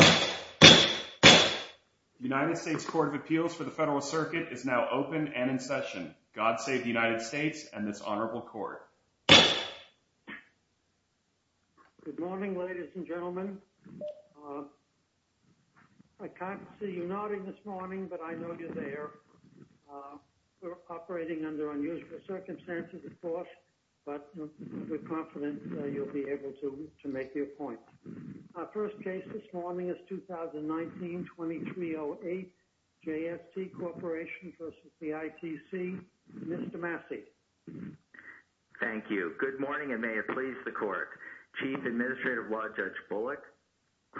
The United States Court of Appeals for the Federalist Circuit is now open and in session. God save the United States and this honorable court. Good morning, ladies and gentlemen. I can't see you nodding this morning, but I know you're there. We're operating under unusual circumstances, of course, but we're confident you'll be able to make your point. Our first case this morning is 2019-2308 J.S.T. Corporation v. ITC. Mr. Massey. Thank you. Good morning and may it please the court. Chief Administrative Law Judge Bullock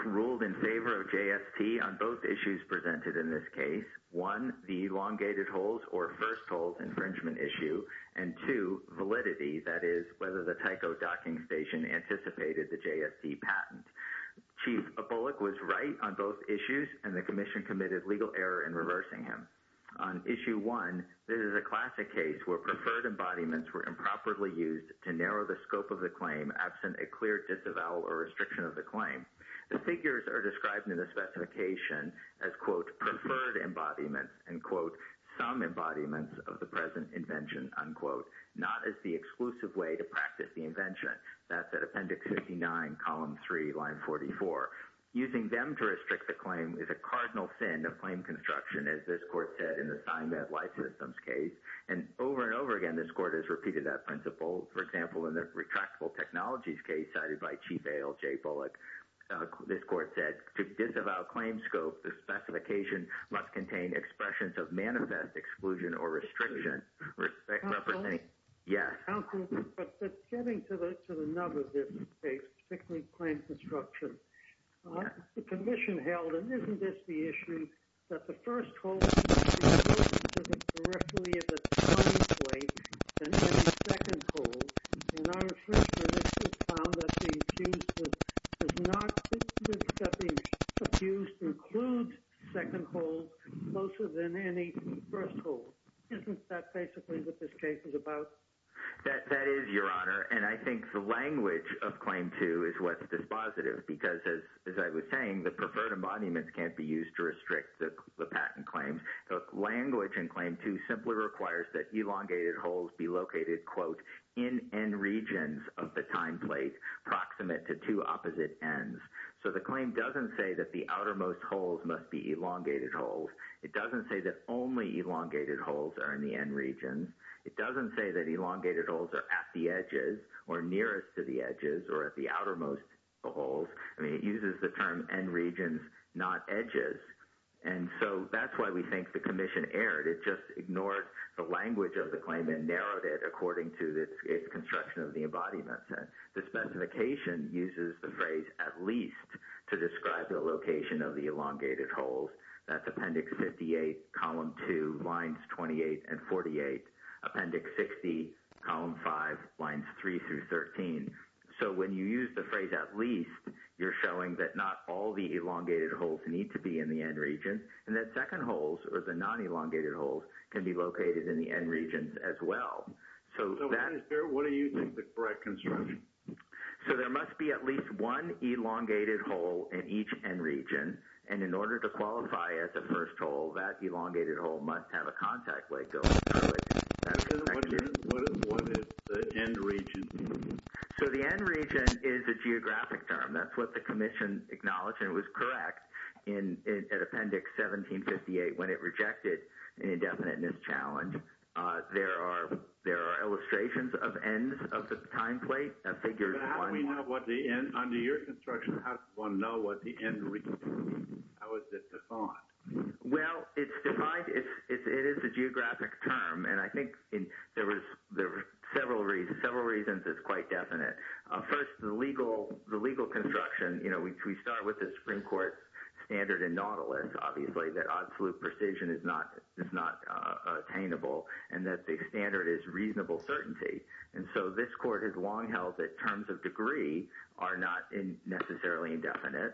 ruled in favor of J.S.T. on both issues presented in this case. One, the elongated holds or first holds infringement issue. And two, validity, that is, whether the Tyco docking station anticipated the J.S.T. patent. Chief Bullock was right on both issues and the commission committed legal error in reversing him. On issue one, this is a classic case where preferred embodiments were improperly used to narrow the scope of the claim absent a clear disavowal or restriction of the claim. The figures are described in the specification as, quote, preferred embodiments and, quote, some embodiments of the present invention, unquote, not as the exclusive way to practice the invention. That's at Appendix 59, Column 3, Line 44. Using them to restrict the claim is a cardinal sin of claim construction, as this court said in the sign that license case. And over and over again, this court has repeated that principle. For example, in the retractable technologies case cited by Chief A.L.J. Bullock, this court said, to disavow claim scope, the specification must contain expressions of manifest exclusion or restriction. Yes. But getting to the nub of this case, particularly claim construction, the commission held, and isn't this the issue, that the first hold is more directly at the time of the claim than any second hold? And our assessment has found that the accuser does not think that the accuser includes second hold closer than any first hold. Isn't that basically what this case is about? That is, Your Honor. And I think the language of Claim 2 is what's dispositive because, as I was saying, the preferred embodiments can't be used to restrict the patent claims. The language in Claim 2 simply requires that elongated holds be located, quote, in N regions of the time plate proximate to two opposite Ns. So the claim doesn't say that the outermost holds must be elongated holds. It doesn't say that only elongated holds are in the N regions. It doesn't say that elongated holds are at the edges or nearest to the edges or at the outermost holds. I mean, it uses the term N regions, not edges. And so that's why we think the commission erred. It just ignored the language of the claim and narrowed it according to the construction of the embodiments. The specification uses the phrase at least to describe the location of the elongated holds. That's Appendix 58, Column 2, Lines 28 and 48, Appendix 60, Column 5, Lines 3 through 13. So when you use the phrase at least, you're showing that not all the elongated holds need to be in the N region and that second holds or the non-elongated holds can be located in the N regions as well. So what do you think is the correct construction? So there must be at least one elongated hold in each N region. And in order to qualify as a first hold, that elongated hold must have a contact length. What is the N region? So the N region is a geographic term. That's what the commission acknowledged, and it was correct at Appendix 1758 when it rejected an indefiniteness challenge. There are illustrations of Ns of the time plate. But how do we know what the N – under your construction, how does one know what the N region is? How is it defined? Well, it's defined – it is a geographic term, and I think there are several reasons it's quite definite. First, the legal construction, you know, we start with the Supreme Court standard in Nautilus. Obviously, that absolute precision is not attainable, and that the standard is reasonable certainty. And so this court has long held that terms of degree are not necessarily indefinite.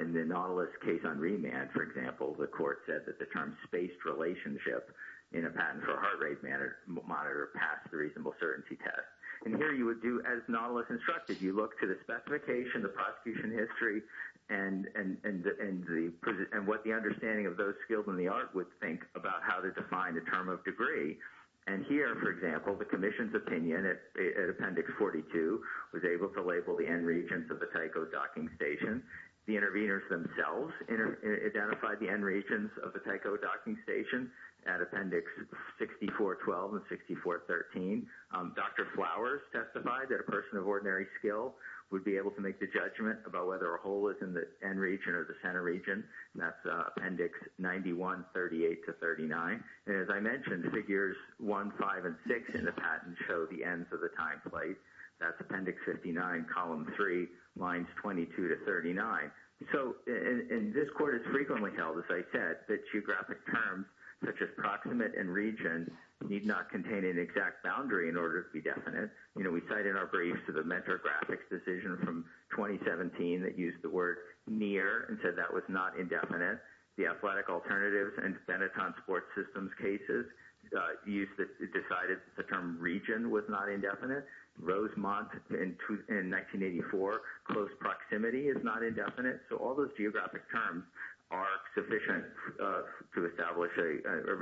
In the Nautilus case on remand, for example, the court said that the term spaced relationship in a patent for a heart rate monitor passed the reasonable certainty test. And here you would do as Nautilus instructed. You look to the specification, the prosecution history, and what the understanding of those skills and the art would think about how to define the term of degree. And here, for example, the commission's opinion at Appendix 42 was able to label the N regions of the Tycho docking station. The interveners themselves identified the N regions of the Tycho docking station at Appendix 6412 and 6413. Dr. Flowers testified that a person of ordinary skill would be able to make the judgment about whether a hole is in the N region or the center region. That's Appendix 9138 to 39. As I mentioned, Figures 1, 5, and 6 in the patent show the ends of the time plate. That's Appendix 59, Column 3, Lines 22 to 39. And this court has frequently held, as I said, that geographic terms such as proximate and region need not contain an exact boundary in order to be definite. We cite in our briefs to the Mentor Graphics decision from 2017 that used the word near and said that was not indefinite. The Athletic Alternatives and Benetton Sports Systems cases decided the term region was not indefinite. Rosemont in 1984, close proximity is not indefinite. So all those geographic terms are sufficient to establish a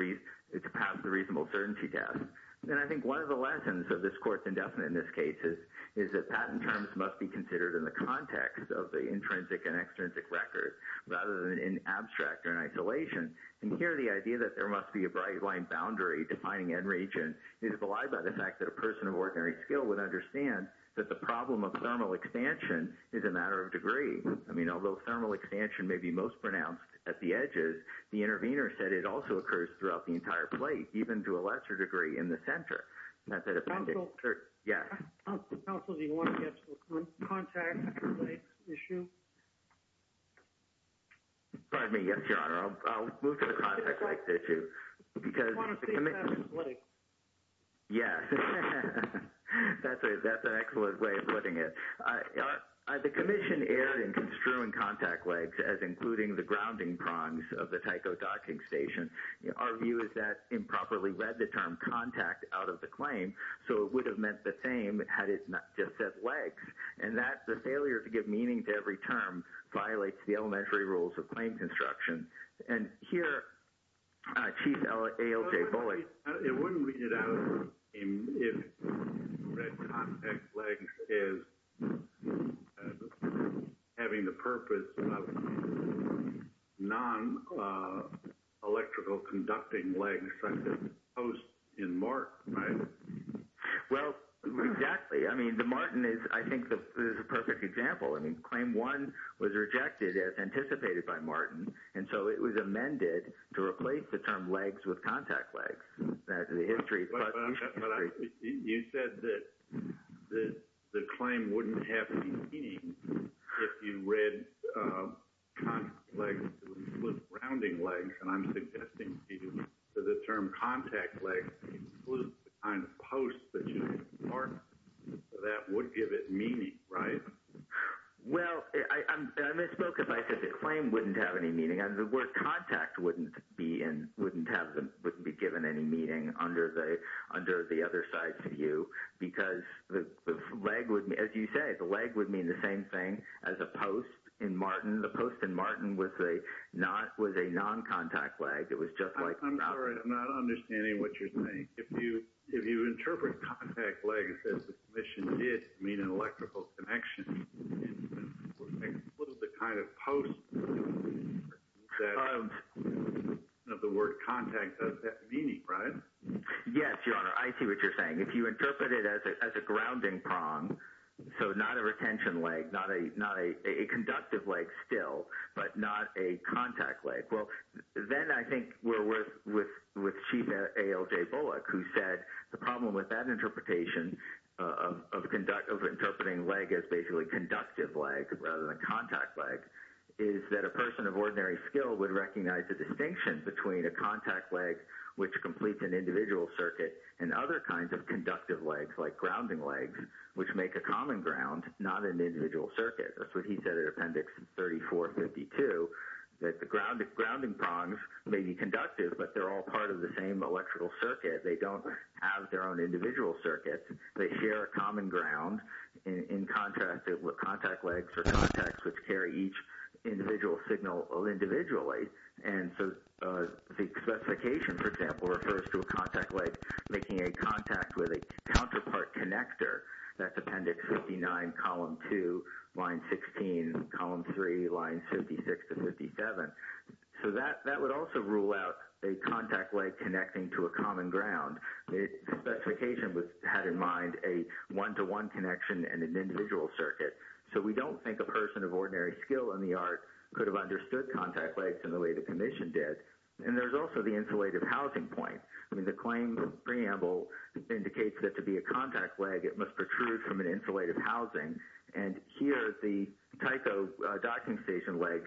reasonable certainty test. And I think one of the lessons of this court's indefinite in this case is that patent terms must be considered in the context of the intrinsic and extrinsic record rather than in abstract or in isolation. And here the idea that there must be a bright line boundary defining end region is belied by the fact that a person of ordinary skill would understand that the problem of thermal expansion is a matter of degree. I mean, although thermal expansion may be most pronounced at the edges, the intervener said it also occurs throughout the entire plate, even to a lesser degree in the center. Counsel, do you want to get to the contact legs issue? Pardon me, yes, your honor. I'll move to the contact legs issue. I want to see that in play. Yes, that's an excellent way of putting it. The commission erred in construing contact legs as including the grounding prongs of the Tyco docking station. Our view is that improperly read the term contact out of the claim. So it would have meant the same had it not just said legs and that the failure to give meaning to every term violates the elementary rules of claim construction. It wouldn't read it out if you read contact legs as having the purpose of non-electrical conducting legs such as posts in MART, right? Well, exactly. I mean, the MART is a perfect example. I mean, claim one was rejected as anticipated by MART, and so it was amended to replace the term legs with contact legs. You said that the claim wouldn't have any meaning if you read contact legs with grounding legs. And I'm suggesting to you that the term contact legs includes the kind of posts that you have in MART. That would give it meaning, right? Well, I misspoke if I said the claim wouldn't have any meaning. The word contact wouldn't be given any meaning under the other side's view because, as you say, the leg would mean the same thing as a post in MART. The post in MART was a non-contact leg. I'm sorry. I'm not understanding what you're saying. If you interpret contact legs as the commission did to mean an electrical connection, what is the kind of post of the word contact does that mean, right? Yes, Your Honor. I see what you're saying. If you interpret it as a grounding prong, so not a retention leg, not a conductive leg still, but not a contact leg, well, then I think we're with Chief ALJ Bullock. He said the problem with that interpretation of interpreting leg as basically conductive leg rather than contact leg is that a person of ordinary skill would recognize the distinction between a contact leg, which completes an individual circuit, and other kinds of conductive legs like grounding legs, which make a common ground, not an individual circuit. That's what he said in Appendix 3452, that the grounding prongs may be conductive, but they're all part of the same electrical circuit. They don't have their own individual circuit. They share a common ground in contrast with contact legs or contacts, which carry each individual signal individually. And so the specification, for example, refers to a contact leg making a contact with a counterpart connector. That's Appendix 59, Column 2, Line 16, Column 3, Lines 56 to 57. So that would also rule out a contact leg connecting to a common ground. The specification had in mind a one-to-one connection and an individual circuit. So we don't think a person of ordinary skill in the art could have understood contact legs in the way the Commission did. And there's also the insulative housing point. I mean, the claim preamble indicates that to be a contact leg, it must protrude from an insulative housing. And here, the Tyco docking station legs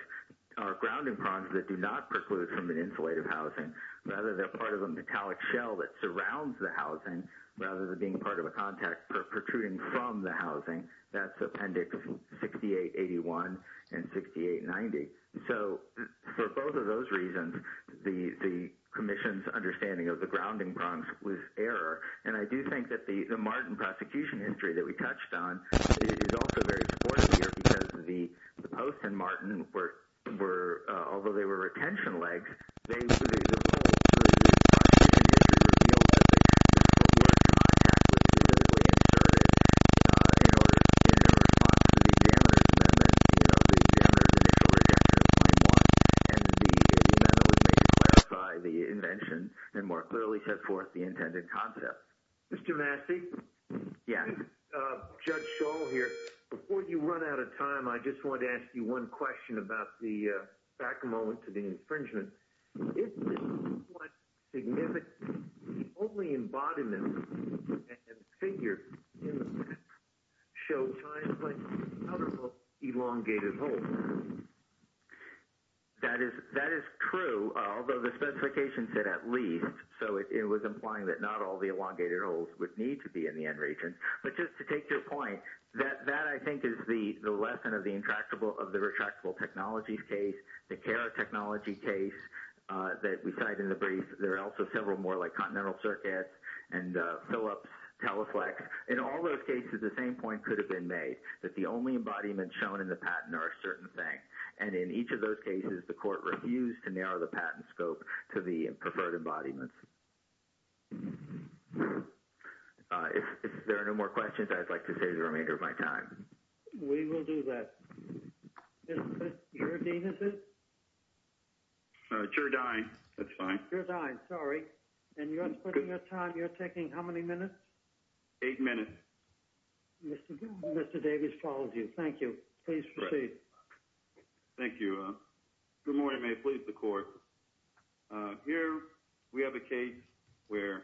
are grounding prongs that do not preclude from an insulative housing. Rather, they're part of a metallic shell that surrounds the housing, rather than being part of a contact protruding from the housing. That's Appendix 6881 and 6890. So for both of those reasons, the Commission's understanding of the grounding prongs was error. And I do think that the Martin prosecution history that we touched on is also very important here because the Post and Martin, although they were retention legs, they included a— —the invention and more clearly set forth the intended concept. Mr. Massey? Yes. Judge Scholl here. Before you run out of time, I just wanted to ask you one question about the—back a moment to the infringement. Isn't this quite significant? The only embodiment and figure in the statute show time-planes and other elongated holes. That is true, although the specification said at least, so it was implying that not all the elongated holes would need to be in the end region. But just to take your point, that, I think, is the lesson of the retractable technologies case, the CARA technology case that we cite in the brief. There are also several more, like continental circuits and Philips, Teleflex. In all those cases, the same point could have been made, that the only embodiments shown in the patent are a certain thing. And in each of those cases, the court refused to narrow the patent scope to the preferred embodiments. If there are no more questions, I'd like to save the remainder of my time. We will do that. Mr. Deavis? Chair Dine, that's fine. Chair Dine, sorry. And you're putting your time—you're taking how many minutes? Eight minutes. Mr. Davis follows you. Please proceed. Thank you. Good morning. May it please the Court. Here we have a case where,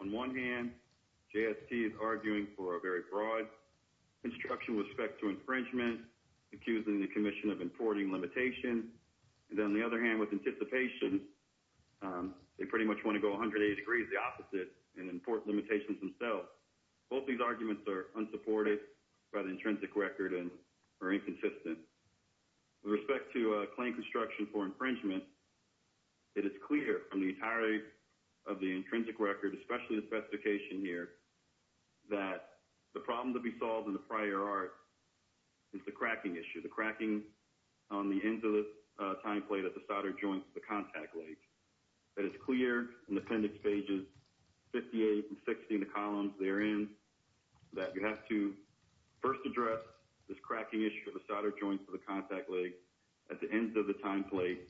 on one hand, JST is arguing for a very broad construction with respect to infringement, accusing the Commission of importing limitations. And on the other hand, with anticipation, they pretty much want to go 180 degrees the opposite and import limitations themselves. Both these arguments are unsupported by the intrinsic record and are inconsistent. With respect to a claim construction for infringement, it is clear from the entirety of the intrinsic record, especially the specification here, that the problem to be solved in the prior art is the cracking issue, the cracking on the ends of the time plate at the solder joints of the contact leg. It is clear in the appendix pages 58 and 60 in the columns therein that you have to first address this cracking issue of the solder joints of the contact leg at the ends of the time plate.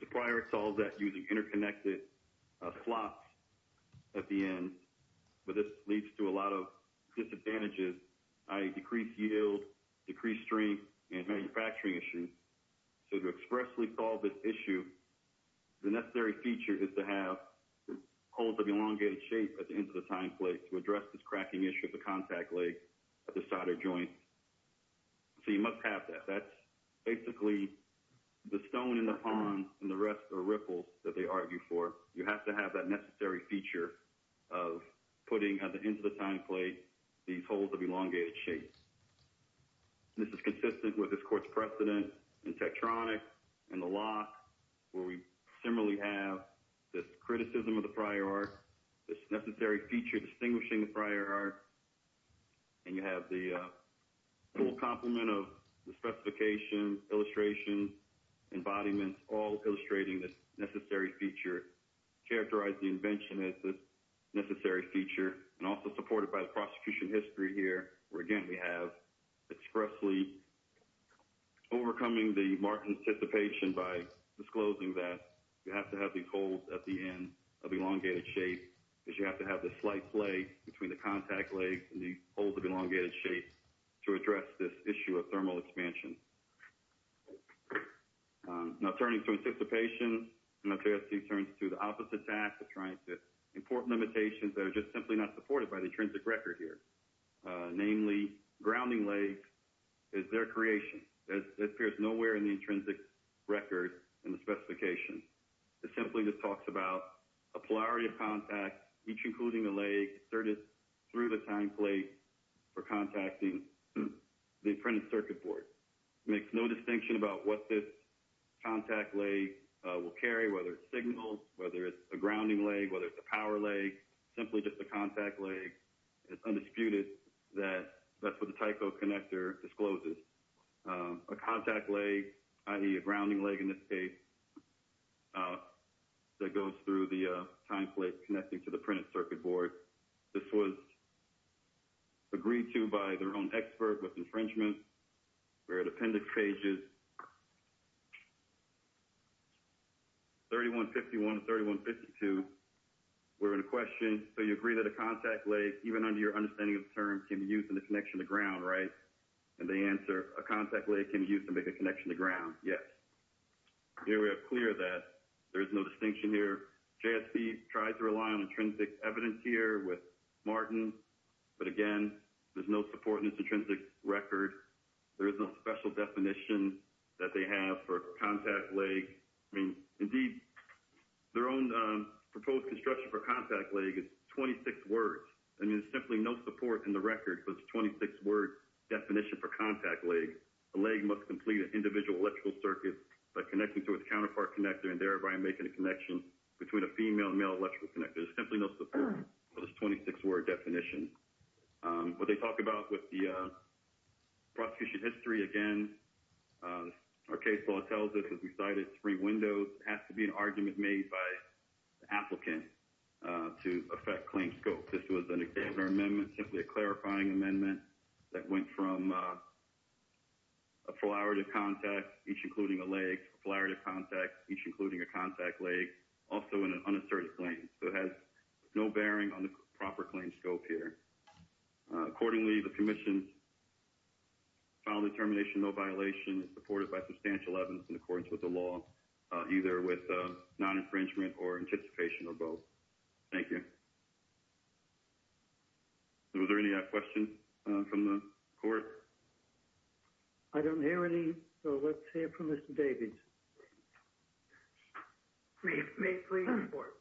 The prior art solves that using interconnected slots at the end, but this leads to a lot of disadvantages, i.e. decreased yield, decreased strength, and manufacturing issues. So to expressly solve this issue, the necessary feature is to have holes of elongated shape at the ends of the time plate to address this cracking issue of the contact leg at the solder joints. So you must have that. That's basically the stone in the pond and the rest are ripples that they argue for. You have to have that necessary feature of putting at the ends of the time plate these holes of elongated shape. This is consistent with this court's precedent in Tektronix and the lock, where we similarly have this criticism of the prior art, this necessary feature distinguishing the prior art, and you have the full complement of the specification, illustration, embodiments, all illustrating this necessary feature, characterize the invention as this necessary feature, and also supported by the prosecution history here, where again we have expressly overcoming the marked anticipation by disclosing that you have to have these holes at the ends of elongated shape, because you have to have this slight play between the contact leg and these holes of elongated shape to address this issue of thermal expansion. Now turning to anticipation, TST turns to the opposite task of trying to import limitations that are just simply not supported by the intrinsic record here. Namely, grounding leg is their creation. It appears nowhere in the intrinsic record in the specification. It simply just talks about a polarity of contact, each including the leg, inserted through the time plate for contacting the printed circuit board. It makes no distinction about what this contact leg will carry, whether it's signals, whether it's a grounding leg, whether it's a power leg, simply just a contact leg. It's undisputed that that's what the Tyco connector discloses. A contact leg, i.e. a grounding leg in this case, that goes through the time plate connecting to the printed circuit board. This was agreed to by their own expert with infringement. We're at appendix pages 3151 and 3152. We're in a question, so you agree that a contact leg, even under your understanding of the term, can be used in the connection to ground, right? And the answer, a contact leg can be used to make a connection to ground, yes. Here we are clear that there is no distinction here. JSC tried to rely on intrinsic evidence here with Martin, but again, there's no support in its intrinsic record. There is no special definition that they have for a contact leg. I mean, indeed, their own proposed construction for a contact leg is 26 words. I mean, there's simply no support in the record for the 26-word definition for contact leg. A leg must complete an individual electrical circuit by connecting to its counterpart connector and thereby making a connection between a female and male electrical connector. There's simply no support for this 26-word definition. What they talk about with the prosecution history, again, our case law tells us, as we cited, it's three windows. It has to be an argument made by the applicant to affect claim scope. This was an examiner amendment, simply a clarifying amendment that went from a flyer to contact, each including a leg, flyer to contact, each including a contact leg, also in an unasserted claim. So it has no bearing on the proper claim scope here. Accordingly, the commission's final determination, no violation is supported by substantial evidence in accordance with the law, either with non-infringement or anticipation of both. Thank you. Was there any other questions from the court? I don't hear any, so let's hear from Mr. Davies. May it please the court.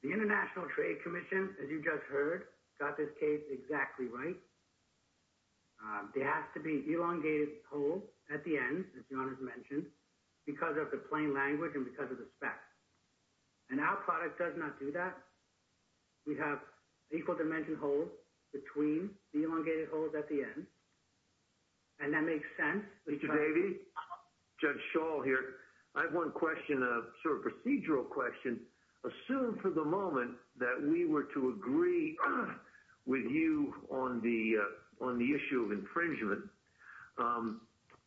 The International Trade Commission, as you just heard, got this case exactly right. There has to be elongated hold at the end, as John has mentioned, because of the plain language and because of the specs. And our product does not do that. We have equal dimension hold between the elongated hold at the end. And that makes sense. Mr. Davies, Judge Schall here. I have one question, a sort of procedural question. Assume for the moment that we were to agree with you on the issue of infringement.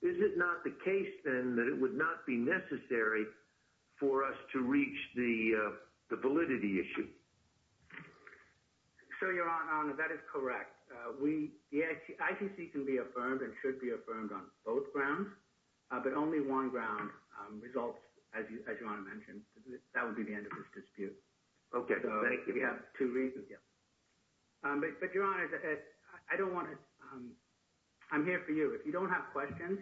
Is it not the case, then, that it would not be necessary for us to reach the validity issue? So, Your Honor, that is correct. The ICC can be affirmed and should be affirmed on both grounds, but only one ground results, as Your Honor mentioned. That would be the end of this dispute. Okay. If you have two reasons, yes. But, Your Honor, I don't want to – I'm here for you. If you don't have questions,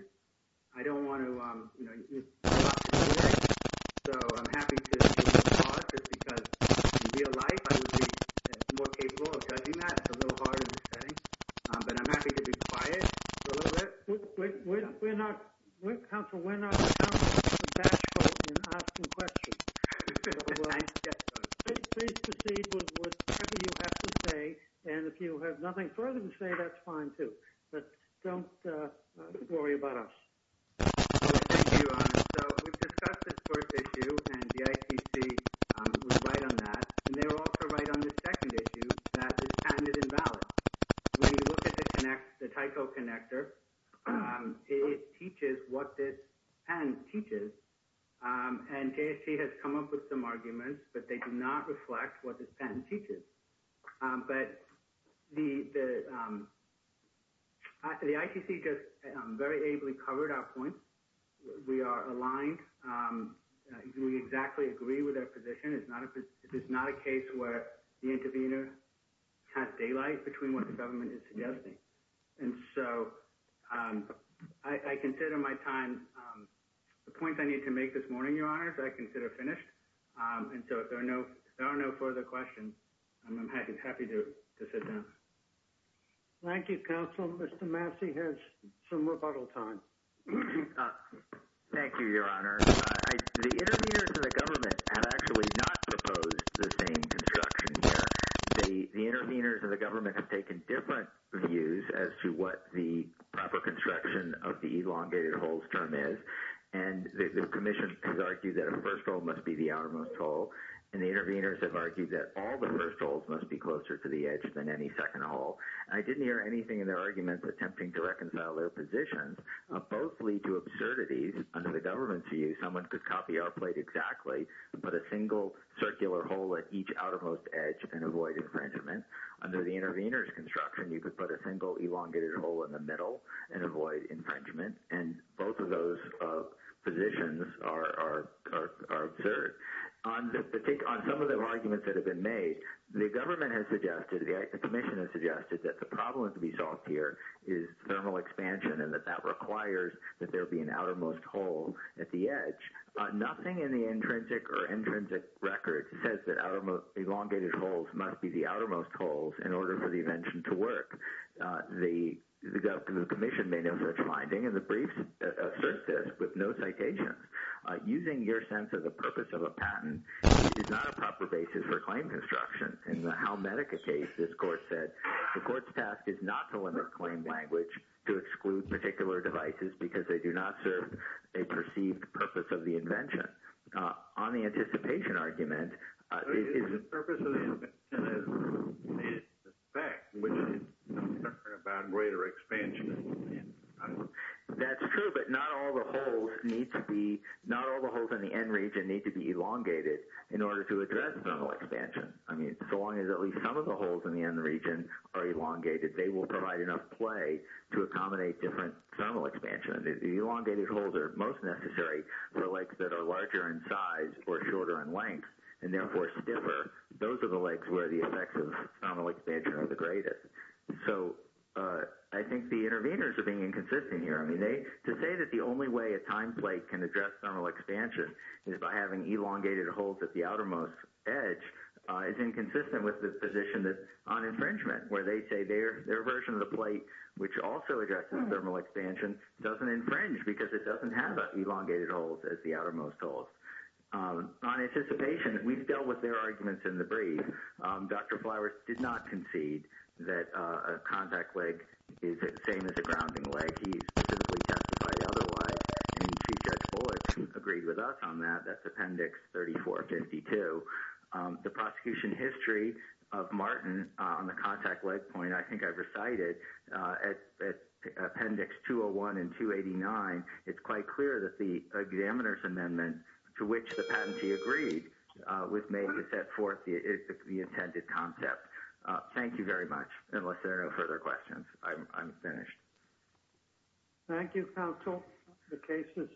I don't want to – So, I'm happy to take a pause just because, in real life, I would be more capable of judging that. It's a little hard in this setting. But I'm happy to be quiet for a little bit. We're not – Counsel, we're not – Counsel, we're not asking questions. Please proceed with whatever you have to say. And if you have nothing further to say, that's fine, too. But don't worry about us. Thank you, Your Honor. So, we've discussed this first issue, and the ICC was right on that. And they were also right on the second issue, that this patent is invalid. When you look at the Tyco Connector, it teaches what this patent teaches. And JST has come up with some arguments, but they do not reflect what this patent teaches. But the ICC just very ably covered our point. We are aligned. We exactly agree with our position. It's not a case where the intervener has daylight between what the government is suggesting. And so, I consider my time – the points I need to make this morning, Your Honor, I consider finished. And so, if there are no further questions, I'm happy to sit down. Thank you, Counsel. Mr. Massey has some rebuttal time. Thank you, Your Honor. The interveners in the government have actually not proposed the same construction here. The interveners in the government have taken different views as to what the proper construction of the elongated holes term is. And the commission has argued that a first hole must be the outermost hole. And the interveners have argued that all the first holes must be closer to the edge than any second hole. I didn't hear anything in their arguments attempting to reconcile their positions. Both lead to absurdities under the government's view. Someone could copy our plate exactly and put a single circular hole at each outermost edge and avoid infringement. Under the interveners' construction, you could put a single elongated hole in the middle and avoid infringement. And both of those positions are absurd. On some of the arguments that have been made, the government has suggested, the commission has suggested that the problem to be solved here is thermal expansion and that that requires that there be an outermost hole at the edge. Nothing in the intrinsic or intrinsic record says that elongated holes must be the outermost holes in order for the invention to work. The commission may know such a finding, and the briefs assert this with no citations. Using your sense of the purpose of a patent is not a proper basis for claim construction. In the Halmedica case, this court said the court's task is not to limit claim language to exclude particular devices because they do not serve a perceived purpose of the invention. On the anticipation argument... The purpose of the invention is the fact, which is no different about greater expansion. That's true, but not all the holes in the end region need to be elongated in order to address thermal expansion. I mean, so long as at least some of the holes in the end region are elongated, they will provide enough play to accommodate different thermal expansion. The elongated holes are most necessary for lakes that are larger in size or shorter in length, and therefore stiffer. Those are the lakes where the effects of thermal expansion are the greatest. So I think the interveners are being inconsistent here. I mean, to say that the only way a time plate can address thermal expansion is by having elongated holes at the outermost edge is inconsistent with the position on infringement, where they say their version of the plate, which also addresses thermal expansion, doesn't infringe because it doesn't have as elongated holes as the outermost holes. On anticipation, we've dealt with their arguments in the brief. Dr. Flowers did not concede that a contact leg is the same as a grounding leg. He specifically testified otherwise, and Chief Justice Bullock agreed with us on that. That's Appendix 3452. The prosecution history of Martin on the contact leg point I think I recited at Appendix 201 and 289, it's quite clear that the examiner's amendment to which the patentee agreed was made to set forth the intended concept. Thank you very much. Unless there are no further questions, I'm finished. Thank you, counsel. The case is submitted.